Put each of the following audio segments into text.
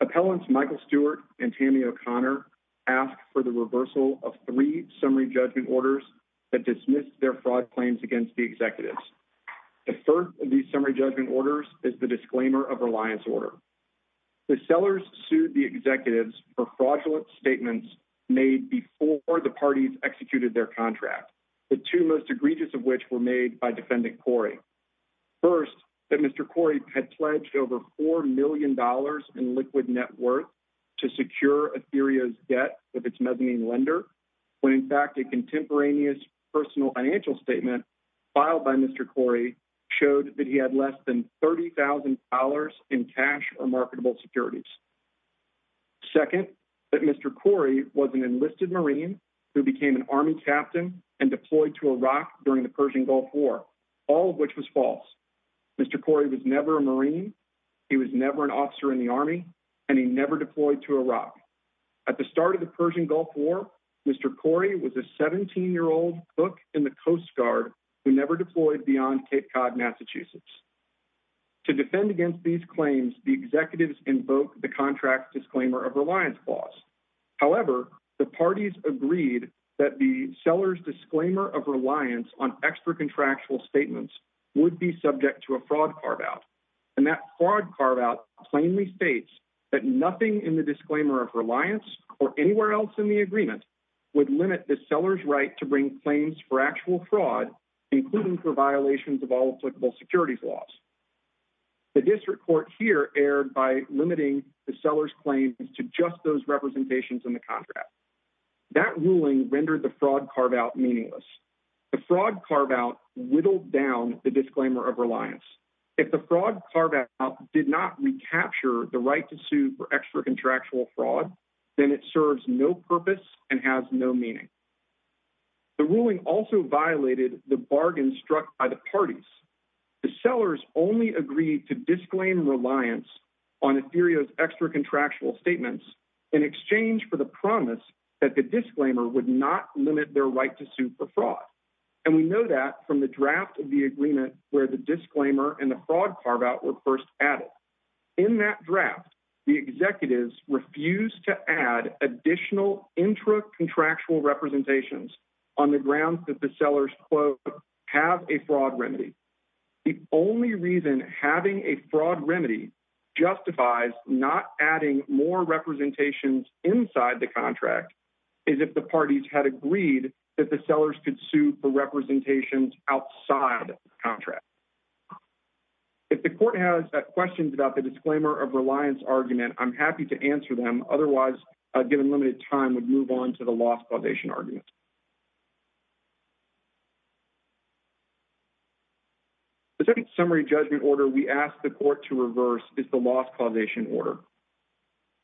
Appellants Michael Stewart and Tammy O'Connor ask for the reversal of three summary judgment orders that dismissed their fraud claims against the executives. The first of these summary judgment orders is the disclaimer of reliance order. The sellers sued the executives for fraudulent statements made before the parties executed their contract, the two most egregious of which were made by Defendant Cory. First, that Mr. Cory had pledged over $4 million in liquid net worth to secure Ethereo's debt with its mezzanine lender, when in fact a contemporaneous personal financial statement filed by Mr. Cory showed that he had less than $30,000 in cash or marketable securities. Second, that Mr. Cory was an enlisted Marine who became an Army captain and deployed to Iraq during the Persian Gulf War, all of which was false. Mr. Cory was never a Marine, he was never an officer in the Army, and he never deployed to Iraq. At the start of the Persian Gulf War, Mr. Cory was a 17-year-old cook in the Coast Guard who never deployed beyond Cape Cod, Massachusetts. To defend against these claims, the executives invoked the contract disclaimer of reliance clause. However, the parties agreed that the seller's disclaimer of reliance on extra contractual fraud carve-out plainly states that nothing in the disclaimer of reliance or anywhere else in the agreement would limit the seller's right to bring claims for actual fraud, including for violations of all applicable securities laws. The district court here erred by limiting the seller's claims to just those representations in the contract. That ruling rendered the fraud carve-out meaningless. The fraud carve-out whittled down the disclaimer of reliance. If the fraud carve-out did not recapture the right to sue for extra contractual fraud, then it serves no purpose and has no meaning. The ruling also violated the bargain struck by the parties. The sellers only agreed to disclaim reliance on Ethereum's extra contractual statements in exchange for the promise that the agreement where the disclaimer and the fraud carve-out were first added. In that draft, the executives refused to add additional intra-contractual representations on the grounds that the sellers, quote, have a fraud remedy. The only reason having a fraud remedy justifies not adding more representations inside the contract is if the parties had agreed that sellers could sue for representations outside the contract. If the court has questions about the disclaimer of reliance argument, I'm happy to answer them. Otherwise, given limited time, we'll move on to the loss causation argument. The second summary judgment order we ask the court to reverse is the loss causation order.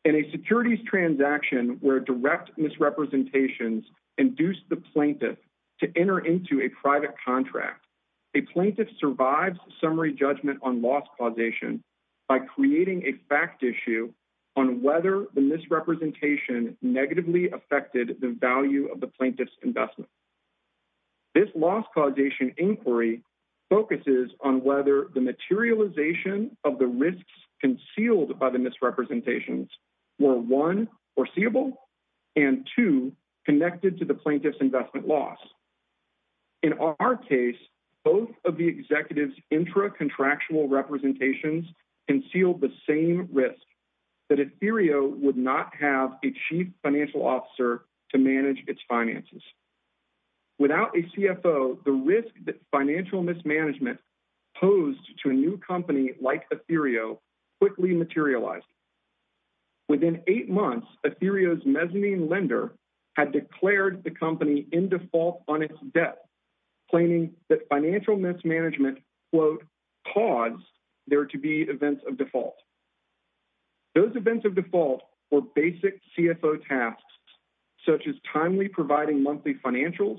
In a securities transaction where direct misrepresentations induce the plaintiff to enter into a private contract, a plaintiff survives summary judgment on loss causation by creating a fact issue on whether the misrepresentation negatively affected the value of the plaintiff's investment. This loss causation inquiry focuses on whether the materialization of the risks concealed by the misrepresentations were one, foreseeable, and two, connected to the plaintiff's investment loss. In our case, both of the executives' intra-contractual representations concealed the same risk, that Ethereo would not have a chief financial officer to manage its finances. Without a CFO, the risk that financial mismanagement posed to a new company like Ethereo quickly materialized. Within eight months, Ethereo's mezzanine lender had declared the company in default on its debt, claiming that financial mismanagement, quote, caused there to be events of default. Those events of default were basic CFO tasks, such as timely providing monthly financials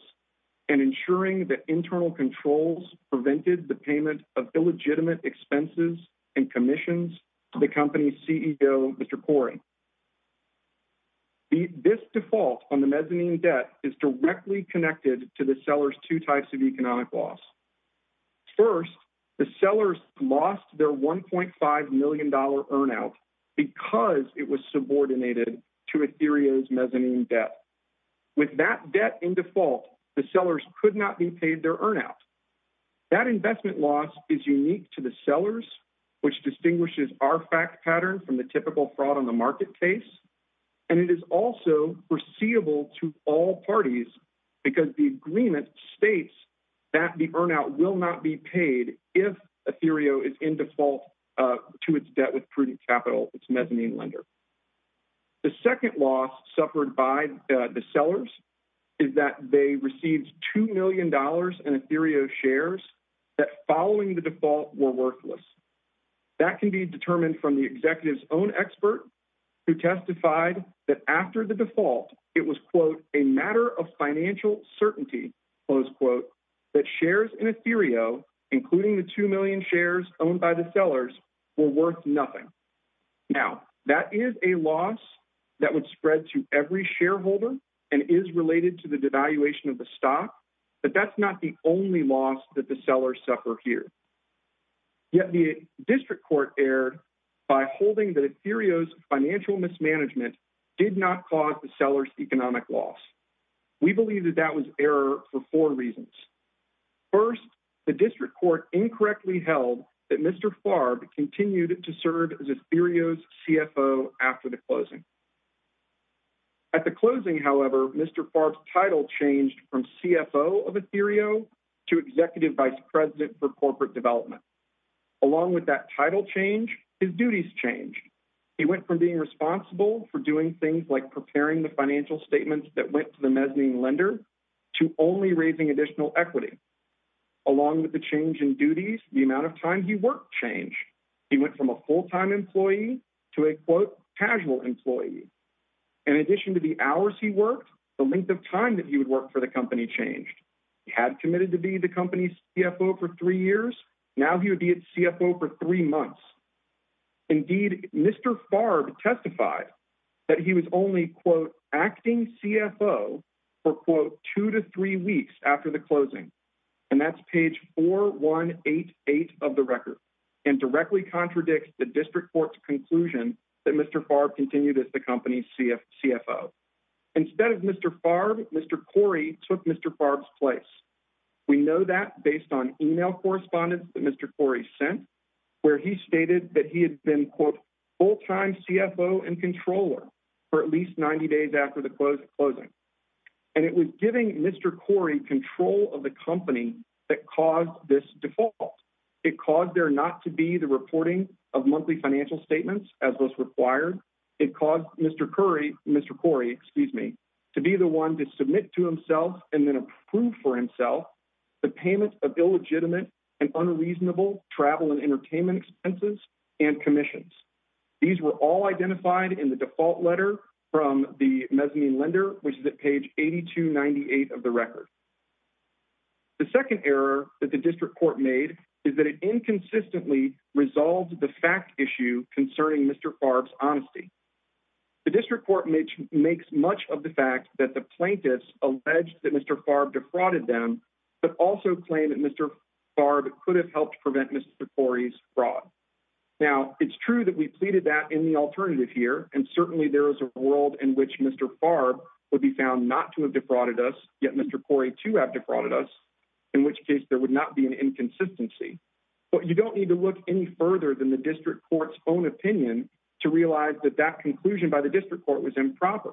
and ensuring that internal controls prevented the payment of illegitimate expenses and commissions to the company's CEO, Mr. Corey. This default on the mezzanine debt is directly connected to the seller's two types of economic loss. First, the seller's lost their $1.5 million earn out because it was subordinated to Ethereo's mezzanine debt. With that debt in default, the sellers could not be paid their earn out. That investment loss is unique to the sellers, which distinguishes our fact pattern from the typical fraud on the market case, and it is also foreseeable to all parties because the agreement states that the earn out will not be paid if Ethereo is in default to its debt with prudent capital, its mezzanine lender. The second loss suffered by the sellers is that they received $2 million in Ethereo shares that following the default were worthless. That can be determined from the executive's own expert who testified that after the default, it was, quote, a matter of financial certainty, close quote, that shares in Ethereo, including the 2 million shares owned by the sellers, were worth nothing. Now, that is a loss that would spread to every shareholder and is related to the devaluation of the stock, but that's not the only loss that the sellers suffer here. Yet the district court erred by holding that Ethereo's financial mismanagement did not cause the seller's economic loss. We believe that that was error for four reasons. First, the district court incorrectly held that Mr. Farb continued to serve as Ethereo's CFO after the closing. At the closing, however, Mr. Farb's title changed from CFO of Ethereo to Executive Vice President for Corporate Development. Along with that title change, his duties changed. He went from being responsible for doing things like preparing the financial statements that went to the mezzanine lender to only raising additional equity. Along with the change in duties, the amount of time he worked changed. He went from a full-time employee to a, quote, casual employee. In addition to the hours he worked, the length of time that he would work for the company changed. He had committed to be the company's CFO for three years. Now he would be its CFO for three months. Indeed, Mr. Farb testified that he was only, quote, acting CFO for, quote, two to three weeks after the closing. That's page 4188 of the record and directly contradicts the district court's conclusion that Mr. Farb continued as the company's CFO. Instead of Mr. Farb, Mr. Corey took Mr. Farb's place. We know that based on email correspondence that Mr. Corey sent where he stated that he had been, quote, a full-time CFO and controller for at least 90 days after the closing. And it was giving Mr. Corey control of the company that caused this default. It caused there not to be the reporting of monthly financial statements as was required. It caused Mr. Corey to be the one to submit to himself and then approve for himself the payment of illegitimate and unreasonable travel and these were all identified in the default letter from the mezzanine lender which is at page 8298 of the record. The second error that the district court made is that it inconsistently resolved the fact issue concerning Mr. Farb's honesty. The district court makes much of the fact that the plaintiffs alleged that Mr. Farb defrauded them but also claimed that Mr. Farb could have helped prevent Mr. Corey's fraud. Now, it's true that we pleaded that in the alternative here and certainly there is a world in which Mr. Farb would be found not to have defrauded us, yet Mr. Corey too have defrauded us, in which case there would not be an inconsistency. But you don't need to look any further than the district court's own opinion to realize that that conclusion by the district court was improper.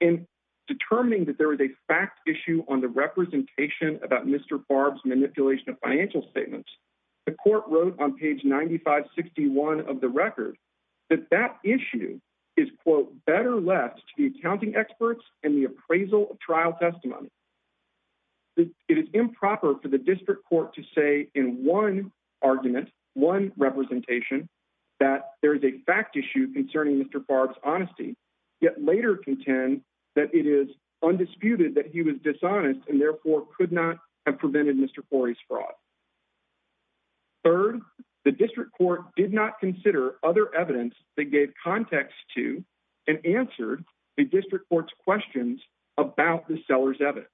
In determining that there is a fact issue on the representation about Mr. Farb's manipulation of financial statements, the court wrote on page 9561 of the record that that issue is quote, better left to the accounting experts and the appraisal of trial testimony. It is improper for the district court to say in one argument, one representation, that there is a fact issue concerning Mr. Farb's honesty, yet later contend that it is undisputed that he was dishonest and therefore could not have prevented Mr. Corey's fraud. Third, the district court did not consider other evidence that gave context to and answered the district court's questions about the seller's evidence.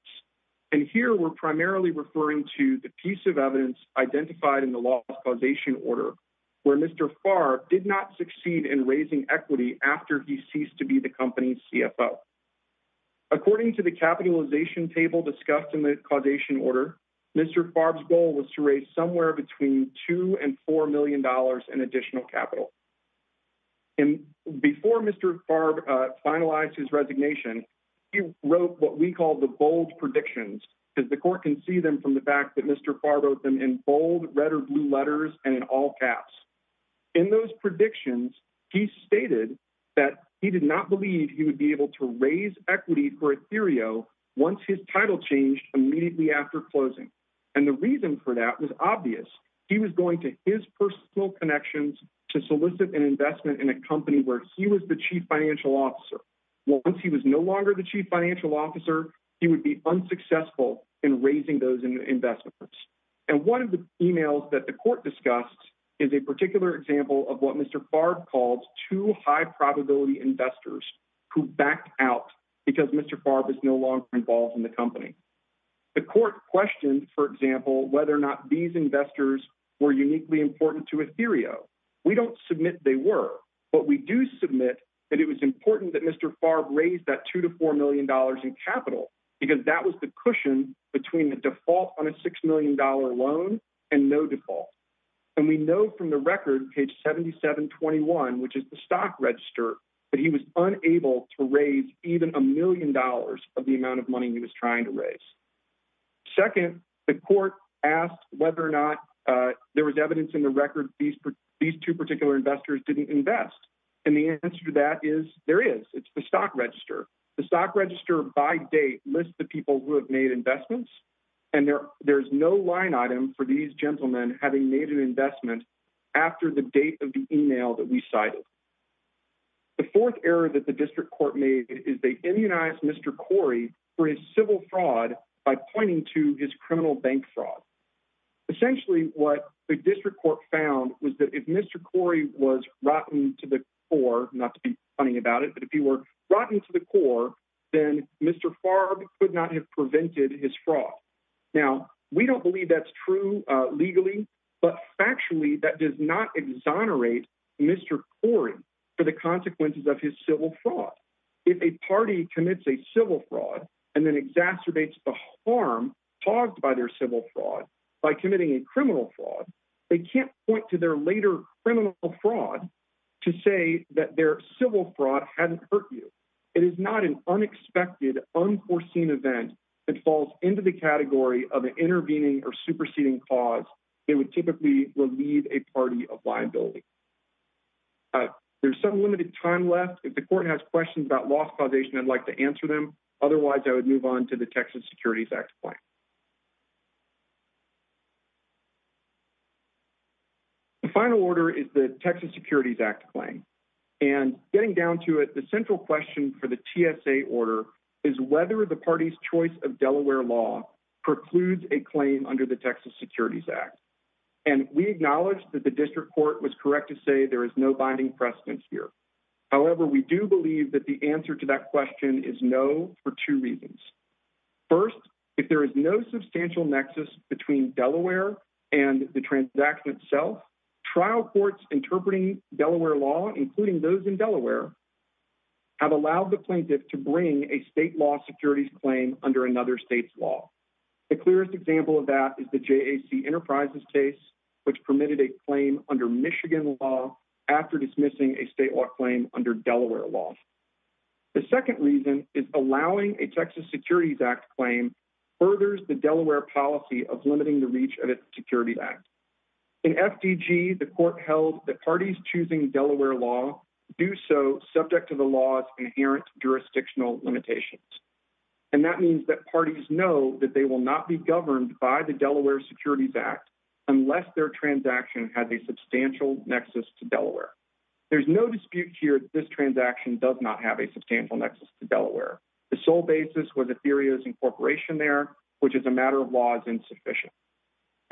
And here we're primarily referring to the piece of evidence identified in the law's causation order, where Mr. Farb did not succeed in raising equity after he ceased to be the company's CFO. According to the capitalization table discussed in the causation order, Mr. Farb's goal was to raise somewhere between two and four million dollars in additional capital. And before Mr. Farb finalized his resignation, he wrote what we call the bold predictions, because the court can see them from the fact that Mr. Farb wrote them in bold red or blue letters and in all caps. In those predictions, he stated that he did not believe he would be able to raise equity for Ethereum once his title changed immediately after closing. And the reason for that was obvious. He was going to his personal connections to solicit an investment in a company where he was the chief financial officer. Once he was no longer the chief financial officer, he would be unsuccessful in the company. The court questioned, for example, whether or not these investors were uniquely important to Ethereum. We don't submit they were, but we do submit that it was important that Mr. Farb raised that two to four million dollars in capital, because that was the And we know from the record, page 7721, which is the stock register, that he was unable to raise even a million dollars of the amount of money he was trying to raise. Second, the court asked whether or not there was evidence in the record these two particular investors didn't invest. And the answer to that is there is. It's the stock register. The stock register by date lists the people who have made investments, and there's no line item for these gentlemen having made an investment after the date of the email that we cited. The fourth error that the district court made is they immunized Mr. Corey for his civil fraud by pointing to his criminal bank fraud. Essentially, what the district court found was that if Mr. Corey was rotten to the core, not to be funny about it, but if he were rotten to the core, then Mr. Farb could not have prevented his fraud. Now, we don't believe that's legally true, but factually, that does not exonerate Mr. Corey for the consequences of his civil fraud. If a party commits a civil fraud and then exacerbates the harm caused by their civil fraud by committing a criminal fraud, they can't point to their later criminal fraud to say that their civil fraud hadn't hurt you. It is not an unexpected, unforeseen event that falls into the category of an intervening or superseding cause that would typically relieve a party of liability. There's some limited time left. If the court has questions about loss causation, I'd like to answer them. Otherwise, I would move on to the Texas Securities Act claim. The final order is the Texas Securities Act claim. Getting down to it, central question for the TSA order is whether the party's choice of Delaware law precludes a claim under the Texas Securities Act. We acknowledge that the district court was correct to say there is no binding precedence here. However, we do believe that the answer to that question is no for two reasons. First, if there is no substantial nexus between Delaware and the transaction itself, trial courts interpreting Delaware law, including those in Delaware, have allowed the plaintiff to bring a state law securities claim under another state's law. The clearest example of that is the JAC Enterprises case, which permitted a claim under Michigan law after dismissing a state law claim under Delaware law. The second reason is allowing a Texas Securities Act claim furthers the Delaware policy of limiting the reach of the Texas Securities Act. In FDG, the court held that parties choosing Delaware law do so subject to the law's inherent jurisdictional limitations. That means that parties know that they will not be governed by the Delaware Securities Act unless their transaction has a substantial nexus to Delaware. There's no dispute here that this transaction does not have a substantial nexus to Delaware. The sole basis was Ethereum's incorporation there, which as a matter of law is insufficient.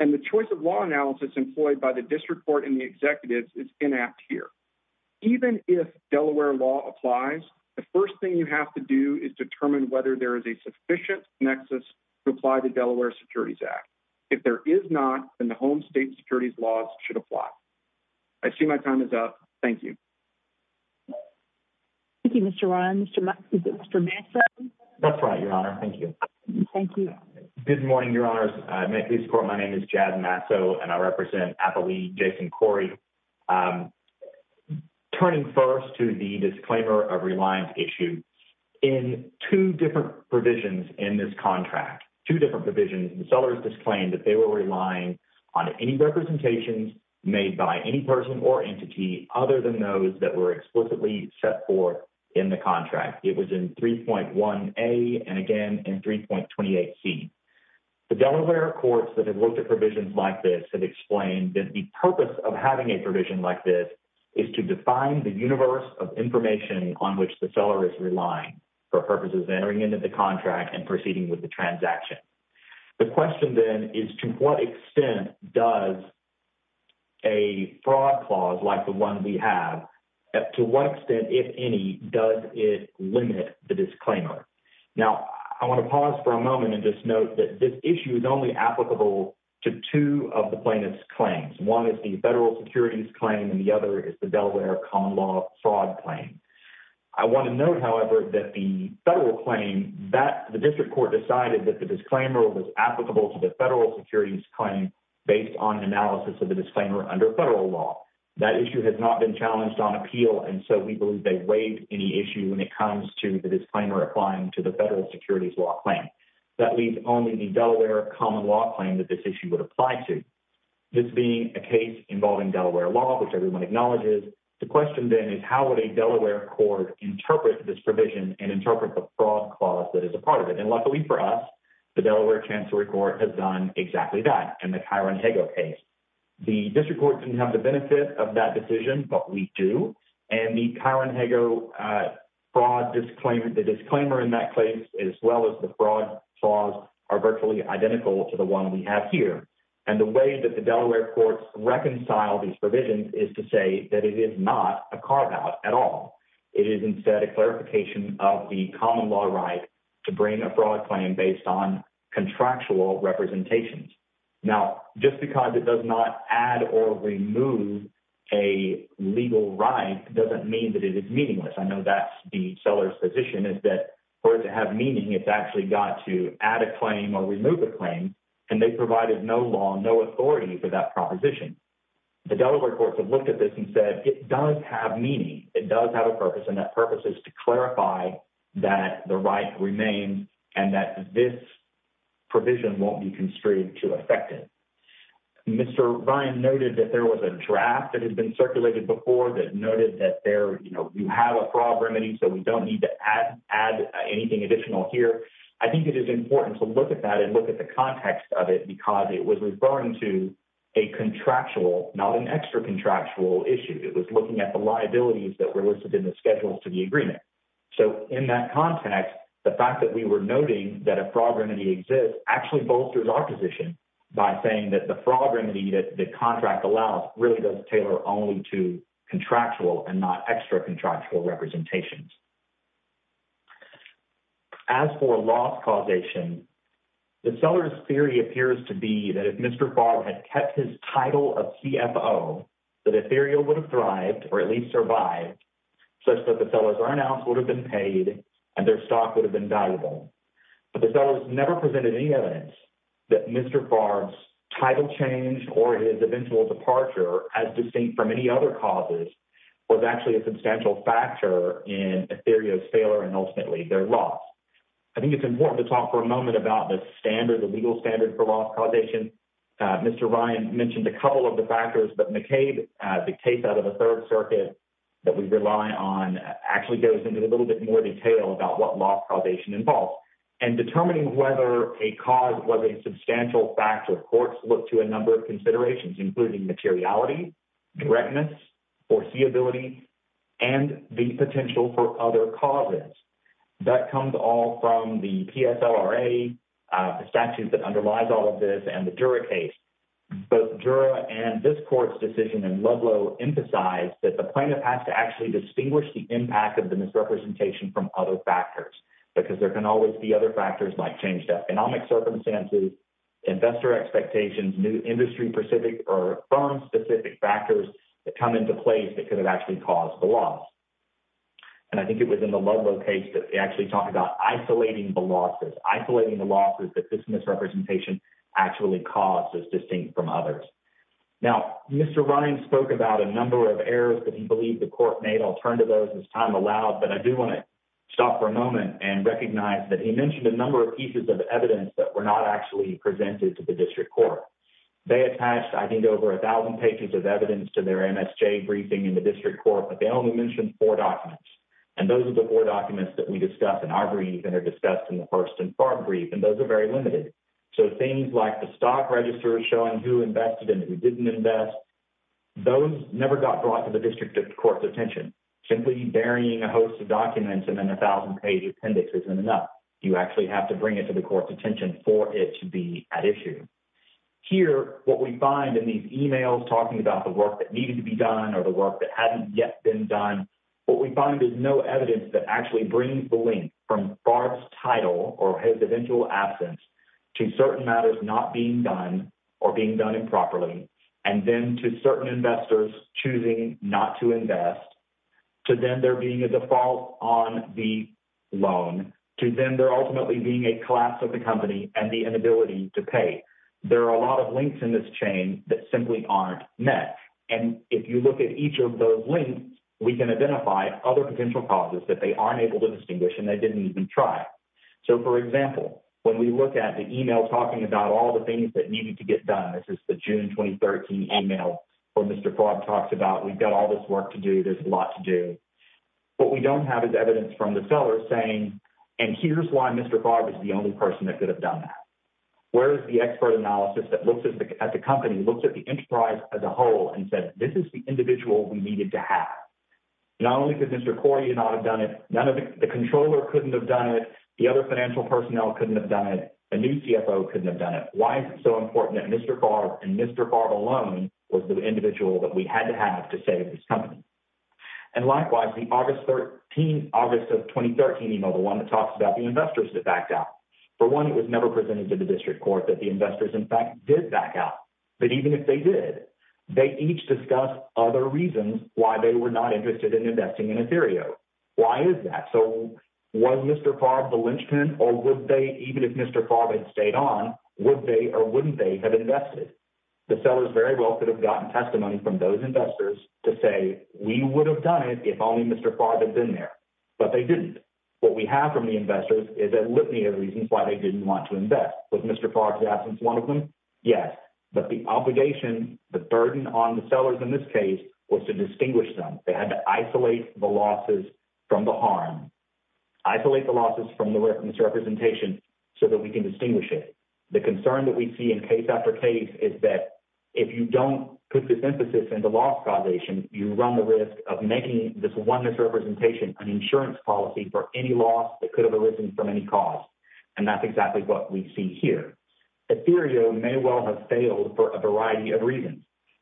And the choice of law analysis employed by the district court and the executives is inapt here. Even if Delaware law applies, the first thing you have to do is determine whether there is a sufficient nexus to apply to Delaware Securities Act. If there is not, then the home state securities laws should apply. I see my time is up. Thank you. Thank you, Mr. Ryan. Is it Mr. Masso? That's right, Your Honor. Thank you. Thank you. Good morning, Your Honors. May it please the court, my name is Jad Masso, and I represent Appawee Jason Corey. Turning first to the disclaimer of reliance issue. In two different provisions in this contract, two different provisions, the sellers disclaimed that they were relying on any representations made by any person or entity other than those that were in the contract. It was in 3.1A and again in 3.28C. The Delaware courts that have looked at provisions like this have explained that the purpose of having a provision like this is to define the universe of information on which the seller is relying for purposes entering into the contract and proceeding with the transaction. The question then is to what extent does a fraud clause like the one we have, to what extent, if any, does it limit the disclaimer? Now, I want to pause for a moment and just note that this issue is only applicable to two of the plaintiff's claims. One is the federal securities claim and the other is the Delaware common law fraud claim. I want to note, however, that the federal claim that the district court decided that the disclaimer was applicable to the federal securities claim based on analysis of the disclaimer under federal law. That issue has not been challenged on appeal and so we believe they waived any issue when it comes to the disclaimer applying to the federal securities law claim. That leaves only the Delaware common law claim that this issue would apply to. This being a case involving Delaware law, which everyone acknowledges, the question then is how would a Delaware court interpret this provision and interpret the fraud clause that is a part of it? And luckily for us, the Delaware Chancellory has done exactly that in the Kyron Hago case. The district court didn't have the benefit of that decision, but we do, and the Kyron Hago disclaimer in that case, as well as the fraud clause, are virtually identical to the one we have here. And the way that the Delaware courts reconcile these provisions is to say that it is not a carve out at all. It is instead a fraud claim based on contractual representations. Now, just because it does not add or remove a legal right doesn't mean that it is meaningless. I know that's the seller's position is that, for it to have meaning, it's actually got to add a claim or remove a claim, and they provided no law, no authority for that proposition. The Delaware courts have looked at this and said it does have meaning. It does have a purpose, and that purpose is to clarify that the right remains and that this provision won't be constrained to affect it. Mr. Ryan noted that there was a draft that had been circulated before that noted that there, you know, you have a fraud remedy, so we don't need to add anything additional here. I think it is important to look at that and look at the context of it because it was referring to a contractual, not an extra contractual issue. It was looking at the liabilities that were listed in the schedules to the agreement. So, in that context, the fact that we were noting that a fraud remedy exists actually bolsters our position by saying that the fraud remedy that the contract allows really does tailor only to contractual and not extra contractual representations. As for loss causation, the seller's theory appears to be that if Mr. Barton had kept his title of Mr. Barton's title change or his eventual departure as distinct from any other causes was actually a substantial factor in a theory of failure and ultimately their loss. I think it's important to talk for a moment about the standard, the legal standard for loss causation. Mr. Ryan mentioned a couple of the factors, but McCabe, the case out of Third Circuit that we rely on, actually goes into a little bit more detail about what loss causation involves. In determining whether a cause was a substantial factor, courts look to a number of considerations, including materiality, directness, foreseeability, and the potential for other causes. That comes all from the PSLRA, the statutes that underlies all of this, and the plaintiff has to actually distinguish the impact of the misrepresentation from other factors, because there can always be other factors like changed economic circumstances, investor expectations, new industry-specific or firm-specific factors that come into place that could have actually caused the loss. I think it was in the Ludlow case that they actually talk about isolating the losses, isolating the losses that this misrepresentation actually caused as well. I'll turn to those as time allows, but I do want to stop for a moment and recognize that he mentioned a number of pieces of evidence that were not actually presented to the district court. They attached, I think, over 1,000 pages of evidence to their MSJ briefing in the district court, but they only mentioned four documents. Those are the four documents that we discussed in our brief and are discussed in the Hearst and Farr brief, and those are very limited. Things like the stock register showing who invested and who didn't invest, those never got brought to the district court's attention. Simply burying a host of documents in a 1,000-page appendix isn't enough. You actually have to bring it to the court's attention for it to be at issue. Here, what we find in these emails talking about the work that needed to be done or the work that hadn't yet been done, what we find is no evidence that actually brings the link from Farr's title or his eventual absence to certain matters not being done or being done improperly, and then to certain investors choosing not to invest, to them there being a default on the loan, to them there ultimately being a collapse of the company and the inability to pay. There are a lot of links in this chain that simply aren't met. If you look at each of those links, we can identify other potential causes that they aren't able to distinguish and they didn't even try. For example, when we look at the email talking about all the things that needed to get done, this is the June 2013 email where Mr. Favre talks about, we've got all this work to do, there's a lot to do. What we don't have is evidence from the seller saying, and here's why Mr. Favre is the only person that could have done that. Where is the expert analysis that looks at the company, looks at the enterprise as a whole and says, this is the individual we needed to have. Not only could Mr. Corey not have done it, the controller couldn't have done it, the other financial personnel couldn't have done it, a new CFO couldn't have done it. Why is it so important that Mr. Favre and Mr. Favre alone was the individual that we had to have to save this company? Likewise, the August of 2013 email, the one that talks about the investors that backed out, for one, it was never presented to the district court that the investors in fact did back out. But even if they did, they each discussed other reasons why they were not interested in investing in Ethereum. Why is that? Was Mr. Favre the linchpin or would they, even if Mr. Favre had stayed on, would they or wouldn't they have invested? The sellers very well could have gotten testimony from those investors to say, we would have done it if only Mr. Favre had been there. But they didn't. What we have from the investors is a litany of reasons why they didn't want to invest. Was Mr. Favre's absence one of them? Yes. But the obligation, the burden on the sellers in this case was to distinguish them. They had to isolate the losses from the harm, isolate the losses from the misrepresentation so that we can distinguish it. The concern that we see in case after case is that if you don't put this emphasis into loss causation, you run the risk of making this one misrepresentation an insurance policy for any loss that could have arisen from any cause. And that's exactly what we see here. Ethereum may well have failed for a variety of reasons.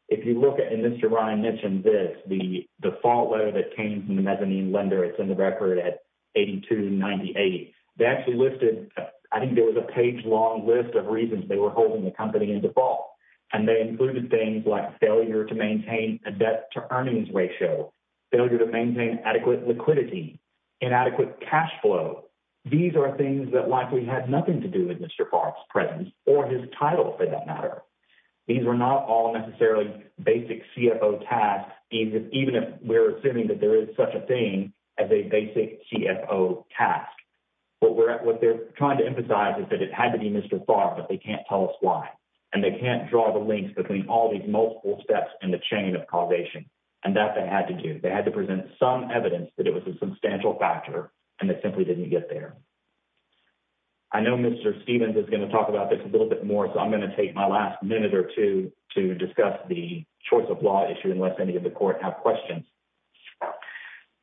If you look at, Mr. Ryan mentioned this, the default letter that came from the mezzanine lender, it's in the record at 8298. They actually listed, I think there was a page long list of reasons they were holding the company in default. And they included things like failure to maintain a debt to earnings ratio, failure to maintain adequate liquidity, inadequate cashflow. These are things that likely had nothing to do with Mr. Favre's presence or his title for that matter. These were not all basic CFO tasks, even if we're assuming that there is such a thing as a basic CFO task. What they're trying to emphasize is that it had to be Mr. Favre, but they can't tell us why. And they can't draw the links between all these multiple steps in the chain of causation. And that they had to do. They had to present some evidence that it was a substantial factor, and it simply didn't get there. I know Mr. Stevens is going to talk about this a little more, so I'm going to take my last minute or two to discuss the choice of law issue, unless any of the court have questions.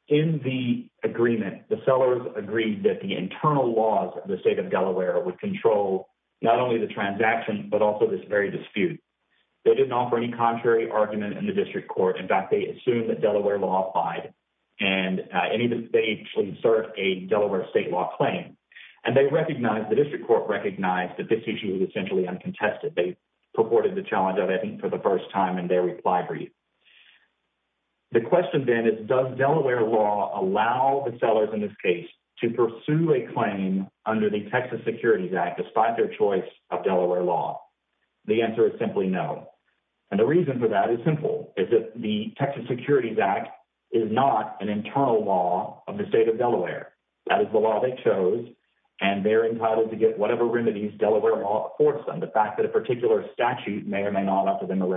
In the agreement, the sellers agreed that the internal laws of the state of Delaware would control not only the transaction, but also this very dispute. They didn't offer any contrary argument in the district court. In fact, they assumed that Delaware law applied, and they actually served a Delaware state law claim. And they recognized, the district court recognized, that this issue was essentially uncontested. They purported the challenge of it for the first time in their reply brief. The question then is, does Delaware law allow the sellers in this case to pursue a claim under the Texas Securities Act despite their choice of Delaware law? The answer is simply no. And the reason for that is simple, is that the Texas Securities Act is not an internal law of the state. And they're entitled to get whatever remedies Delaware law affords them. The fact that a particular statute may or may not offer them a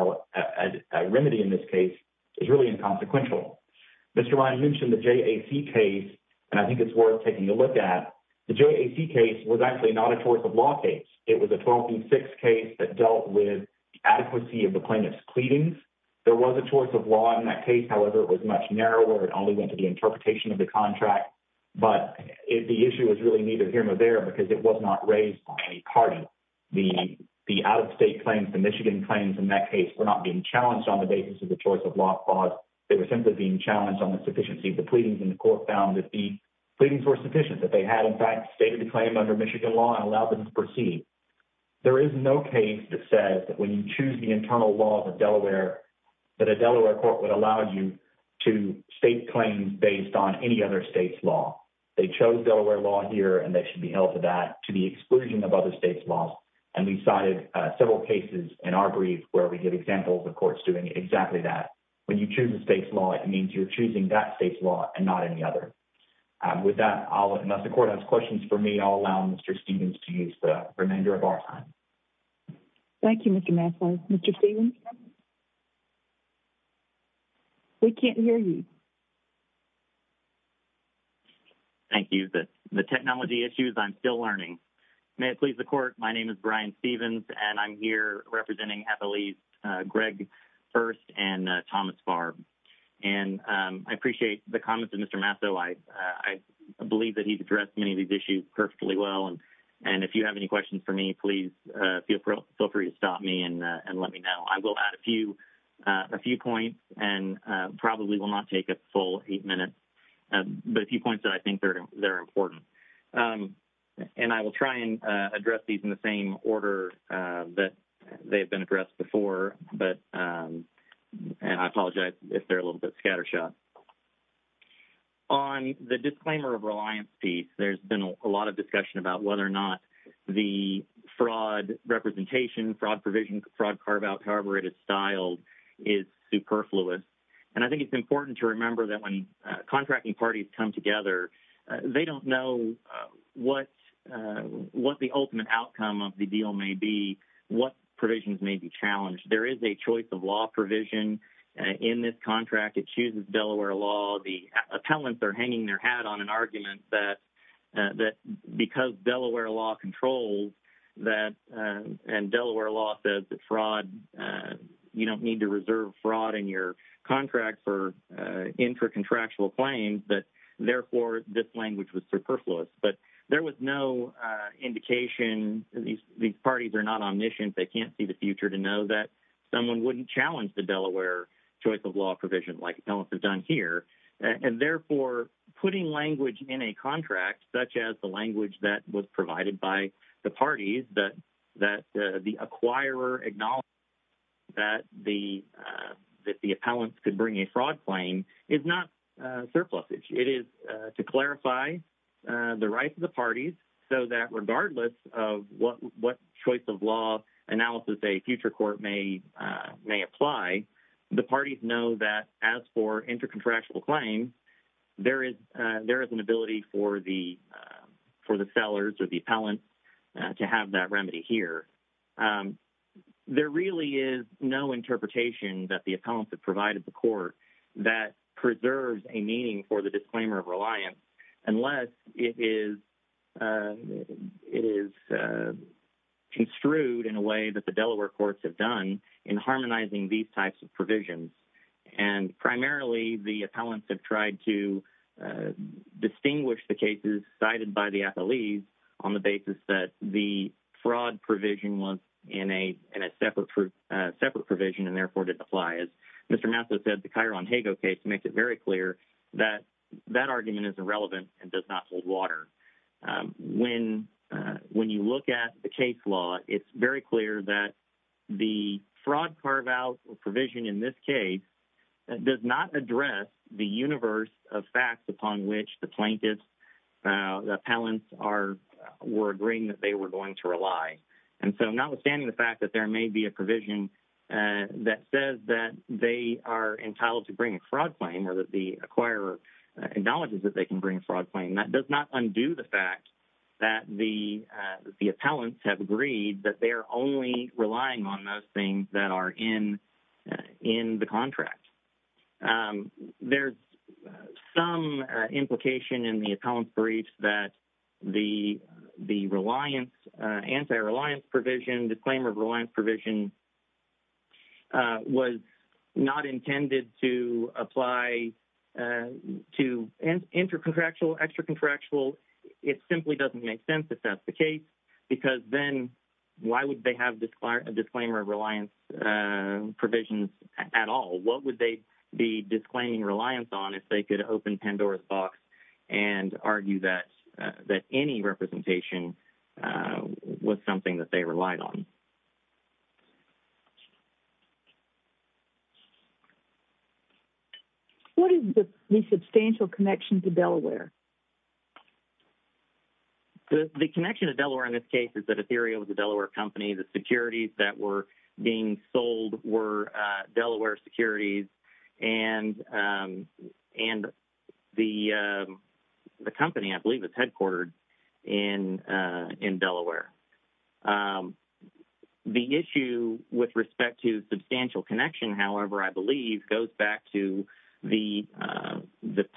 remedy in this case is really inconsequential. Mr. Ryan mentioned the JAC case, and I think it's worth taking a look at. The JAC case was actually not a choice of law case. It was a 12 v. 6 case that dealt with the adequacy of the plaintiff's pleadings. There was a choice of law in that case. However, it was much narrower. It only the interpretation of the contract. But the issue was really neither here nor there, because it was not raised by any party. The out-of-state claims, the Michigan claims in that case, were not being challenged on the basis of the choice of law clause. They were simply being challenged on the sufficiency of the pleadings. And the court found that the pleadings were sufficient, that they had in fact stated the claim under Michigan law and allowed them to proceed. There is no case that says that when you choose the internal law of a Delaware, that a Delaware court would allow you to state claims based on any other state's law. They chose Delaware law here, and they should be held to that, to the exclusion of other states' laws. And we cited several cases in our brief where we get examples of courts doing exactly that. When you choose a state's law, it means you're choosing that state's law and not any other. With that, unless the court has questions for me, I'll allow Mr. Stephens to use the microphone. We can't hear you. Thank you. The technology issues, I'm still learning. May it please the court, my name is Brian Stephens, and I'm here representing at the least Greg First and Thomas Barb. And I appreciate the comments of Mr. Masso. I believe that he's addressed many of these issues perfectly well. And if you have any questions for me, please feel free to stop me and let me know. I will add a few points and probably will not take a full eight minutes. But a few points that I think are important. And I will try and address these in the same order that they've been addressed before. And I apologize if they're a little bit scatter shot. On the disclaimer of reliance piece, there's been a lot of discussion about whether or not the fraud representation, fraud provision, fraud carve out, however it is styled, is superfluous. And I think it's important to remember that when contracting parties come together, they don't know what the ultimate outcome of the deal may be, what provisions may be challenged. There is a choice of law provision in this contract. It chooses Delaware law. The appellants are hanging their hat on an argument that because Delaware law controls that and Delaware law says that fraud, you don't need to reserve fraud in your contract for intra-contractual claims, that therefore this language was superfluous. But there was no indication. These parties are not omniscient. They can't see the future to know that someone wouldn't challenge the Delaware choice of law provision like appellants have done here. And therefore, putting language in a contract such as the language that was provided by the parties that the acquirer acknowledged that the appellants could bring a fraud claim is not surplusage. It is to clarify the rights of the parties so that regardless of what choice of law analysis a future court may apply, the parties know that as for intra-contractual claims, there is an ability for the sellers or the appellants to have that remedy here. There really is no interpretation that the appellants have provided the court that preserves a meaning for the disclaimer of reliance unless it is construed in a way that the Delaware courts have done in harmonizing these types of provisions. And primarily, the appellants have tried to distinguish the cases cited by the appellees on the basis that the fraud provision was in a separate provision and therefore didn't apply. As Mr. Maslow said, the Cairo-Hago case makes it very clear that that argument is irrelevant and does not hold water. When you look at the case law, it's very clear that the fraud carve-out provision in this case does not address the universe of facts upon which the plaintiffs, the appellants were agreeing that they were going to rely. And so notwithstanding the fact that there may be a provision that says that they are entitled to bring a fraud claim or that the acquirer acknowledges that they can bring a fraud claim, that does not undo the fact that the appellants have agreed that they are only relying on those things that are in the contract. There's some implication in the anti-reliance provision, disclaimer of reliance provision was not intended to apply to intracontractual, extracontractual. It simply doesn't make sense if that's the case because then why would they have a disclaimer of reliance provisions at all? What would they be disclaiming reliance on if they could open Pandora's box and argue that any representation was something that they relied on? What is the substantial connection to Delaware? The connection to Delaware in this case is that Ethereum is a Delaware company. The securities that were being sold were Delaware securities and the company I believe is headquartered in Delaware. The issue with respect to substantial connection, however, I believe goes back to the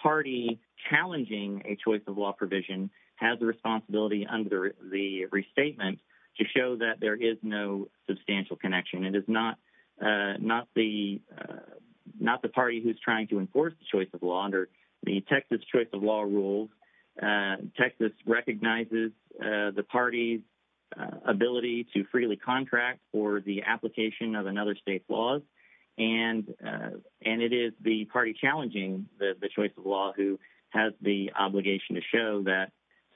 party challenging a choice of law provision has a responsibility under the restatement to show that there is no substantial connection. It is not the party who is trying to enforce the choice of law under the Texas choice of law rules. Texas recognizes the party's ability to freely contract for the application of another state's laws. It is the party challenging the choice of law who has the obligation to show that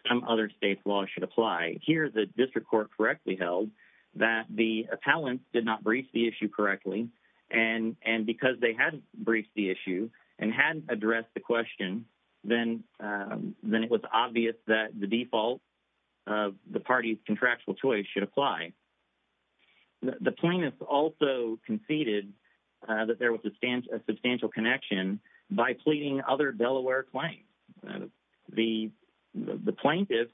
some other state's law should apply. Here the district court correctly held that the appellants did not brief the issue correctly and because they hadn't briefed the issue and hadn't addressed the question, then it was obvious that the default of the party's contractual choice should apply. The plaintiffs also conceded that there was a substantial connection by pleading other Delaware claims. The plaintiffs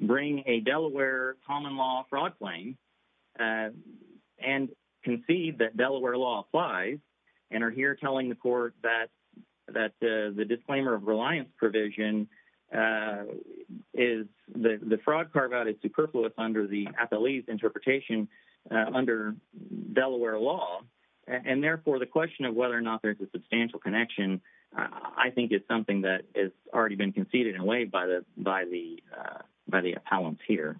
bring a Delaware common law fraud claim and concede that Delaware law applies and are here telling the court that the disclaimer of reliance provision is the fraud carveout is superfluous under the appellee's interpretation under Delaware law. Therefore, the question of whether or not there is a substantial connection I think is something that has already been conceded in a way by the appellant here.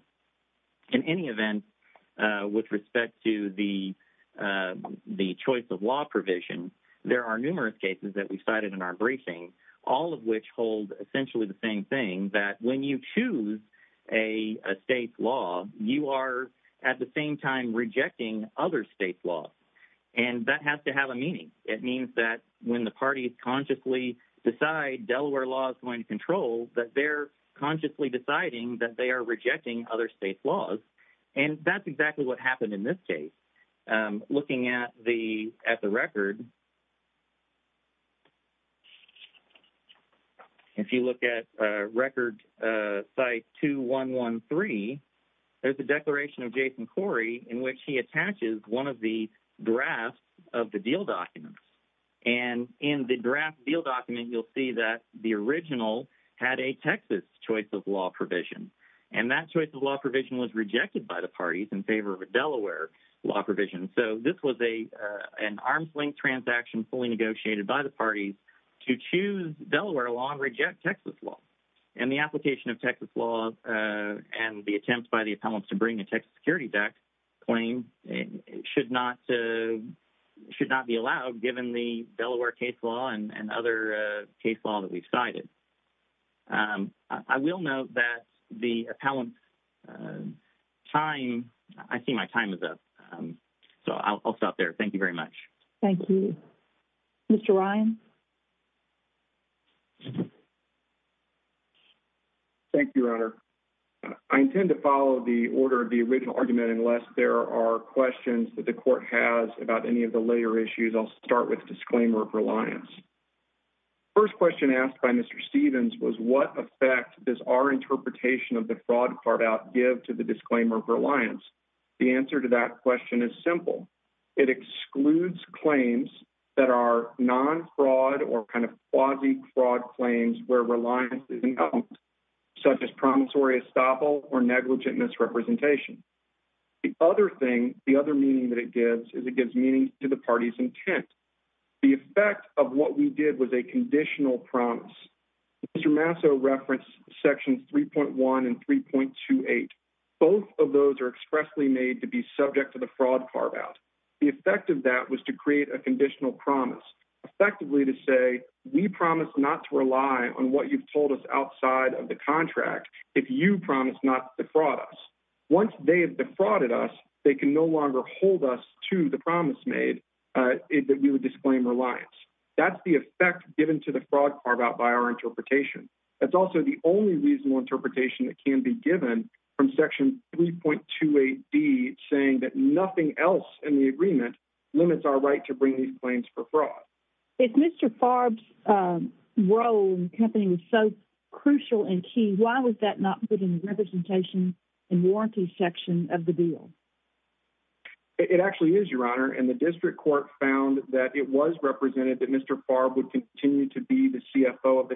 In any event, with respect to the choice of law provision, there are numerous cases that we cited in our briefing, all of which hold essentially the same thing, that when you choose a state's law, you are at the same time rejecting other states' laws. And that has to have a meaning. It means that when the parties consciously decide Delaware law is going to control, that they're consciously deciding that they are rejecting other states' laws. And that's exactly what happened in this case. Looking at the record, if you look at record site 2113, there's a declaration of Jason Corey in which he attaches one of the drafts of the deal documents. And in the draft deal document, you'll see that the original had a Texas choice of law provision. And that choice of law provision was rejected by the parties in favor of a Delaware law provision. So this was an arms-linked transaction fully negotiated by the parties to choose Delaware law and reject Texas law. And the application of Texas Security Act claim should not be allowed given the Delaware case law and other case law that we cited. I will note that the appellant's time, I see my time is up. So I'll stop there. Thank you very much. Thank you. Mr. Ryan. Thank you, Your Honor. I intend to follow the order of the original argument unless there are questions that the court has about any of the later issues. I'll start with disclaimer of reliance. First question asked by Mr. Stevens was what effect does our interpretation of the fraud card out give to the disclaimer of reliance? The answer to that question is simple. It excludes claims that are non-fraud or kind of quasi-fraud claims where reliance is announced, such as promissory estoppel or negligent misrepresentation. The other thing, the other meaning that it gives is it gives meaning to the party's intent. The effect of what we did was a conditional promise. Mr. Masso referenced sections 3.1 and 3.28. Both of those are expressly made to be subject to the fraud card out. The effect of that was to create a conditional promise, effectively to say, we promise not to rely on what you've told us outside of the contract if you promise not to defraud us. Once they have defrauded us, they can no longer hold us to the promise made that we would disclaim reliance. That's the effect given to the fraud card out by our interpretation. That's also the only reasonable interpretation that can be given from section 3.28d, saying that nothing else in the agreement limits our right to bring these claims for fraud. If Mr. Farb's role in the company was so crucial and key, why was that not put in the representation and warranty section of the deal? It actually is, Your Honor, and the district court found that it was represented that Mr. Farb would continue to be the CFO of the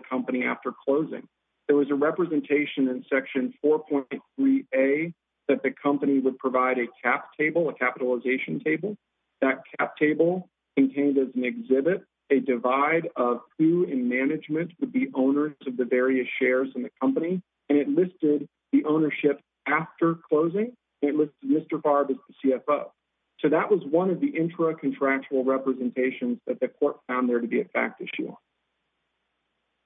3A, that the company would provide a cap table, a capitalization table. That cap table contained as an exhibit a divide of who in management would be owners of the various shares in the company, and it listed the ownership after closing. It listed Mr. Farb as the CFO. So that was one of the intra-contractual representations that the court found there to be a fact issue.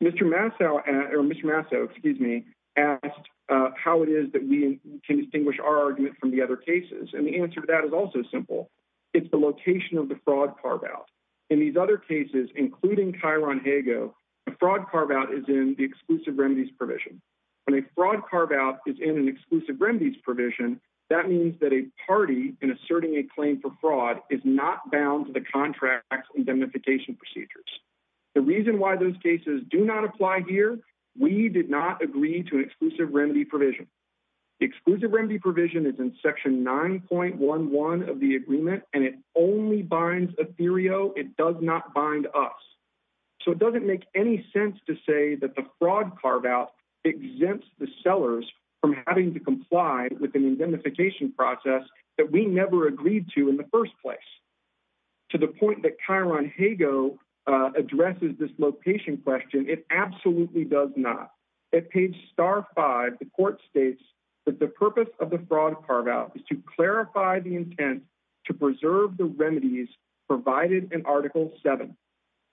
Mr. Massow, or Mr. Massow, excuse me, asked how it is that we can distinguish our argument from the other cases, and the answer to that is also simple. It's the location of the fraud carve-out. In these other cases, including Cairo and Hago, a fraud carve-out is in the exclusive remedies provision. When a fraud carve-out is in an exclusive remedies provision, that means that a party, in asserting a claim for fraud, is not bound to the contract indemnification procedures. The reason why those cases do not apply here, we did not agree to an exclusive remedy provision. The exclusive remedy provision is in section 9.11 of the agreement, and it only binds Ethereo. It does not bind us. So it doesn't make any sense to say that the fraud carve-out exempts the sellers from having to comply with an indemnification process that we never agreed to in the first place. To the point that Cairo and Hago addresses this location question, it absolutely does not. At page star 5, the court states that the purpose of the fraud carve-out is to clarify the intent to preserve the remedies provided in article 7.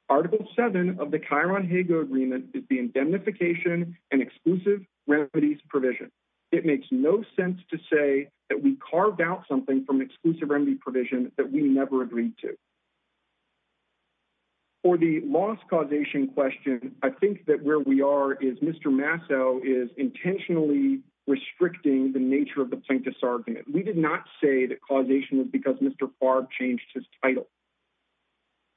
Article 7 of the Cairo and Hago agreement is the indemnification and exclusive remedies provision. It makes no sense to say that we carved out from an exclusive remedy provision that we never agreed to. For the loss causation question, I think that where we are is Mr. Masso is intentionally restricting the nature of the plaintiff's argument. We did not say that causation was because Mr. Favre changed his title.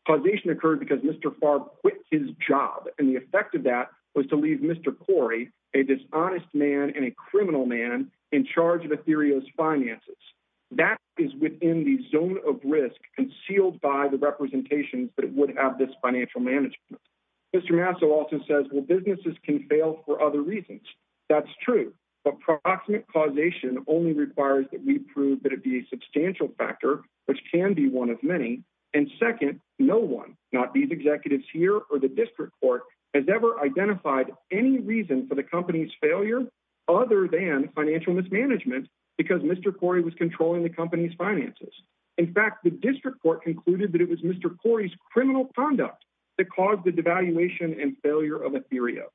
Causation occurred because Mr. Favre quit his job, and the effect of that was to leave Mr. Corey, a dishonest man and a criminal man, in charge of Ethereum's finances. That is within the zone of risk concealed by the representations that it would have this financial management. Mr. Masso also says, well, businesses can fail for other reasons. That's true, but proximate causation only requires that we prove that it be a substantial factor, which can be one of many, and second, no one, not these executives here or the district court, has ever identified any reason for the company's failure other than financial mismanagement because Mr. Corey was controlling the company's finances. In fact, the district court concluded that it was Mr. Corey's criminal conduct that caused the devaluation and failure of Ethereum.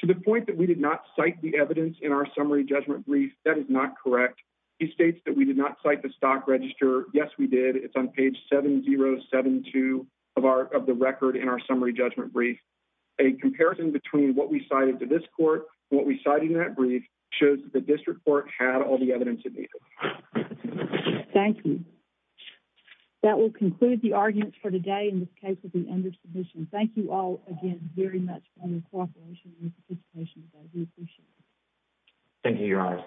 To the point that we did not cite the evidence in our summary judgment brief, that is not correct. He states that we did not cite the stock register. Yes, we did. It's on page 7072 of the record in our summary judgment brief. A comparison between what we had and what the district court had and all the evidence it needed. Thank you. That will conclude the arguments for today in this case with the end of submission. Thank you all again very much for your cooperation and participation today. We appreciate it. Thank you, Your Honor.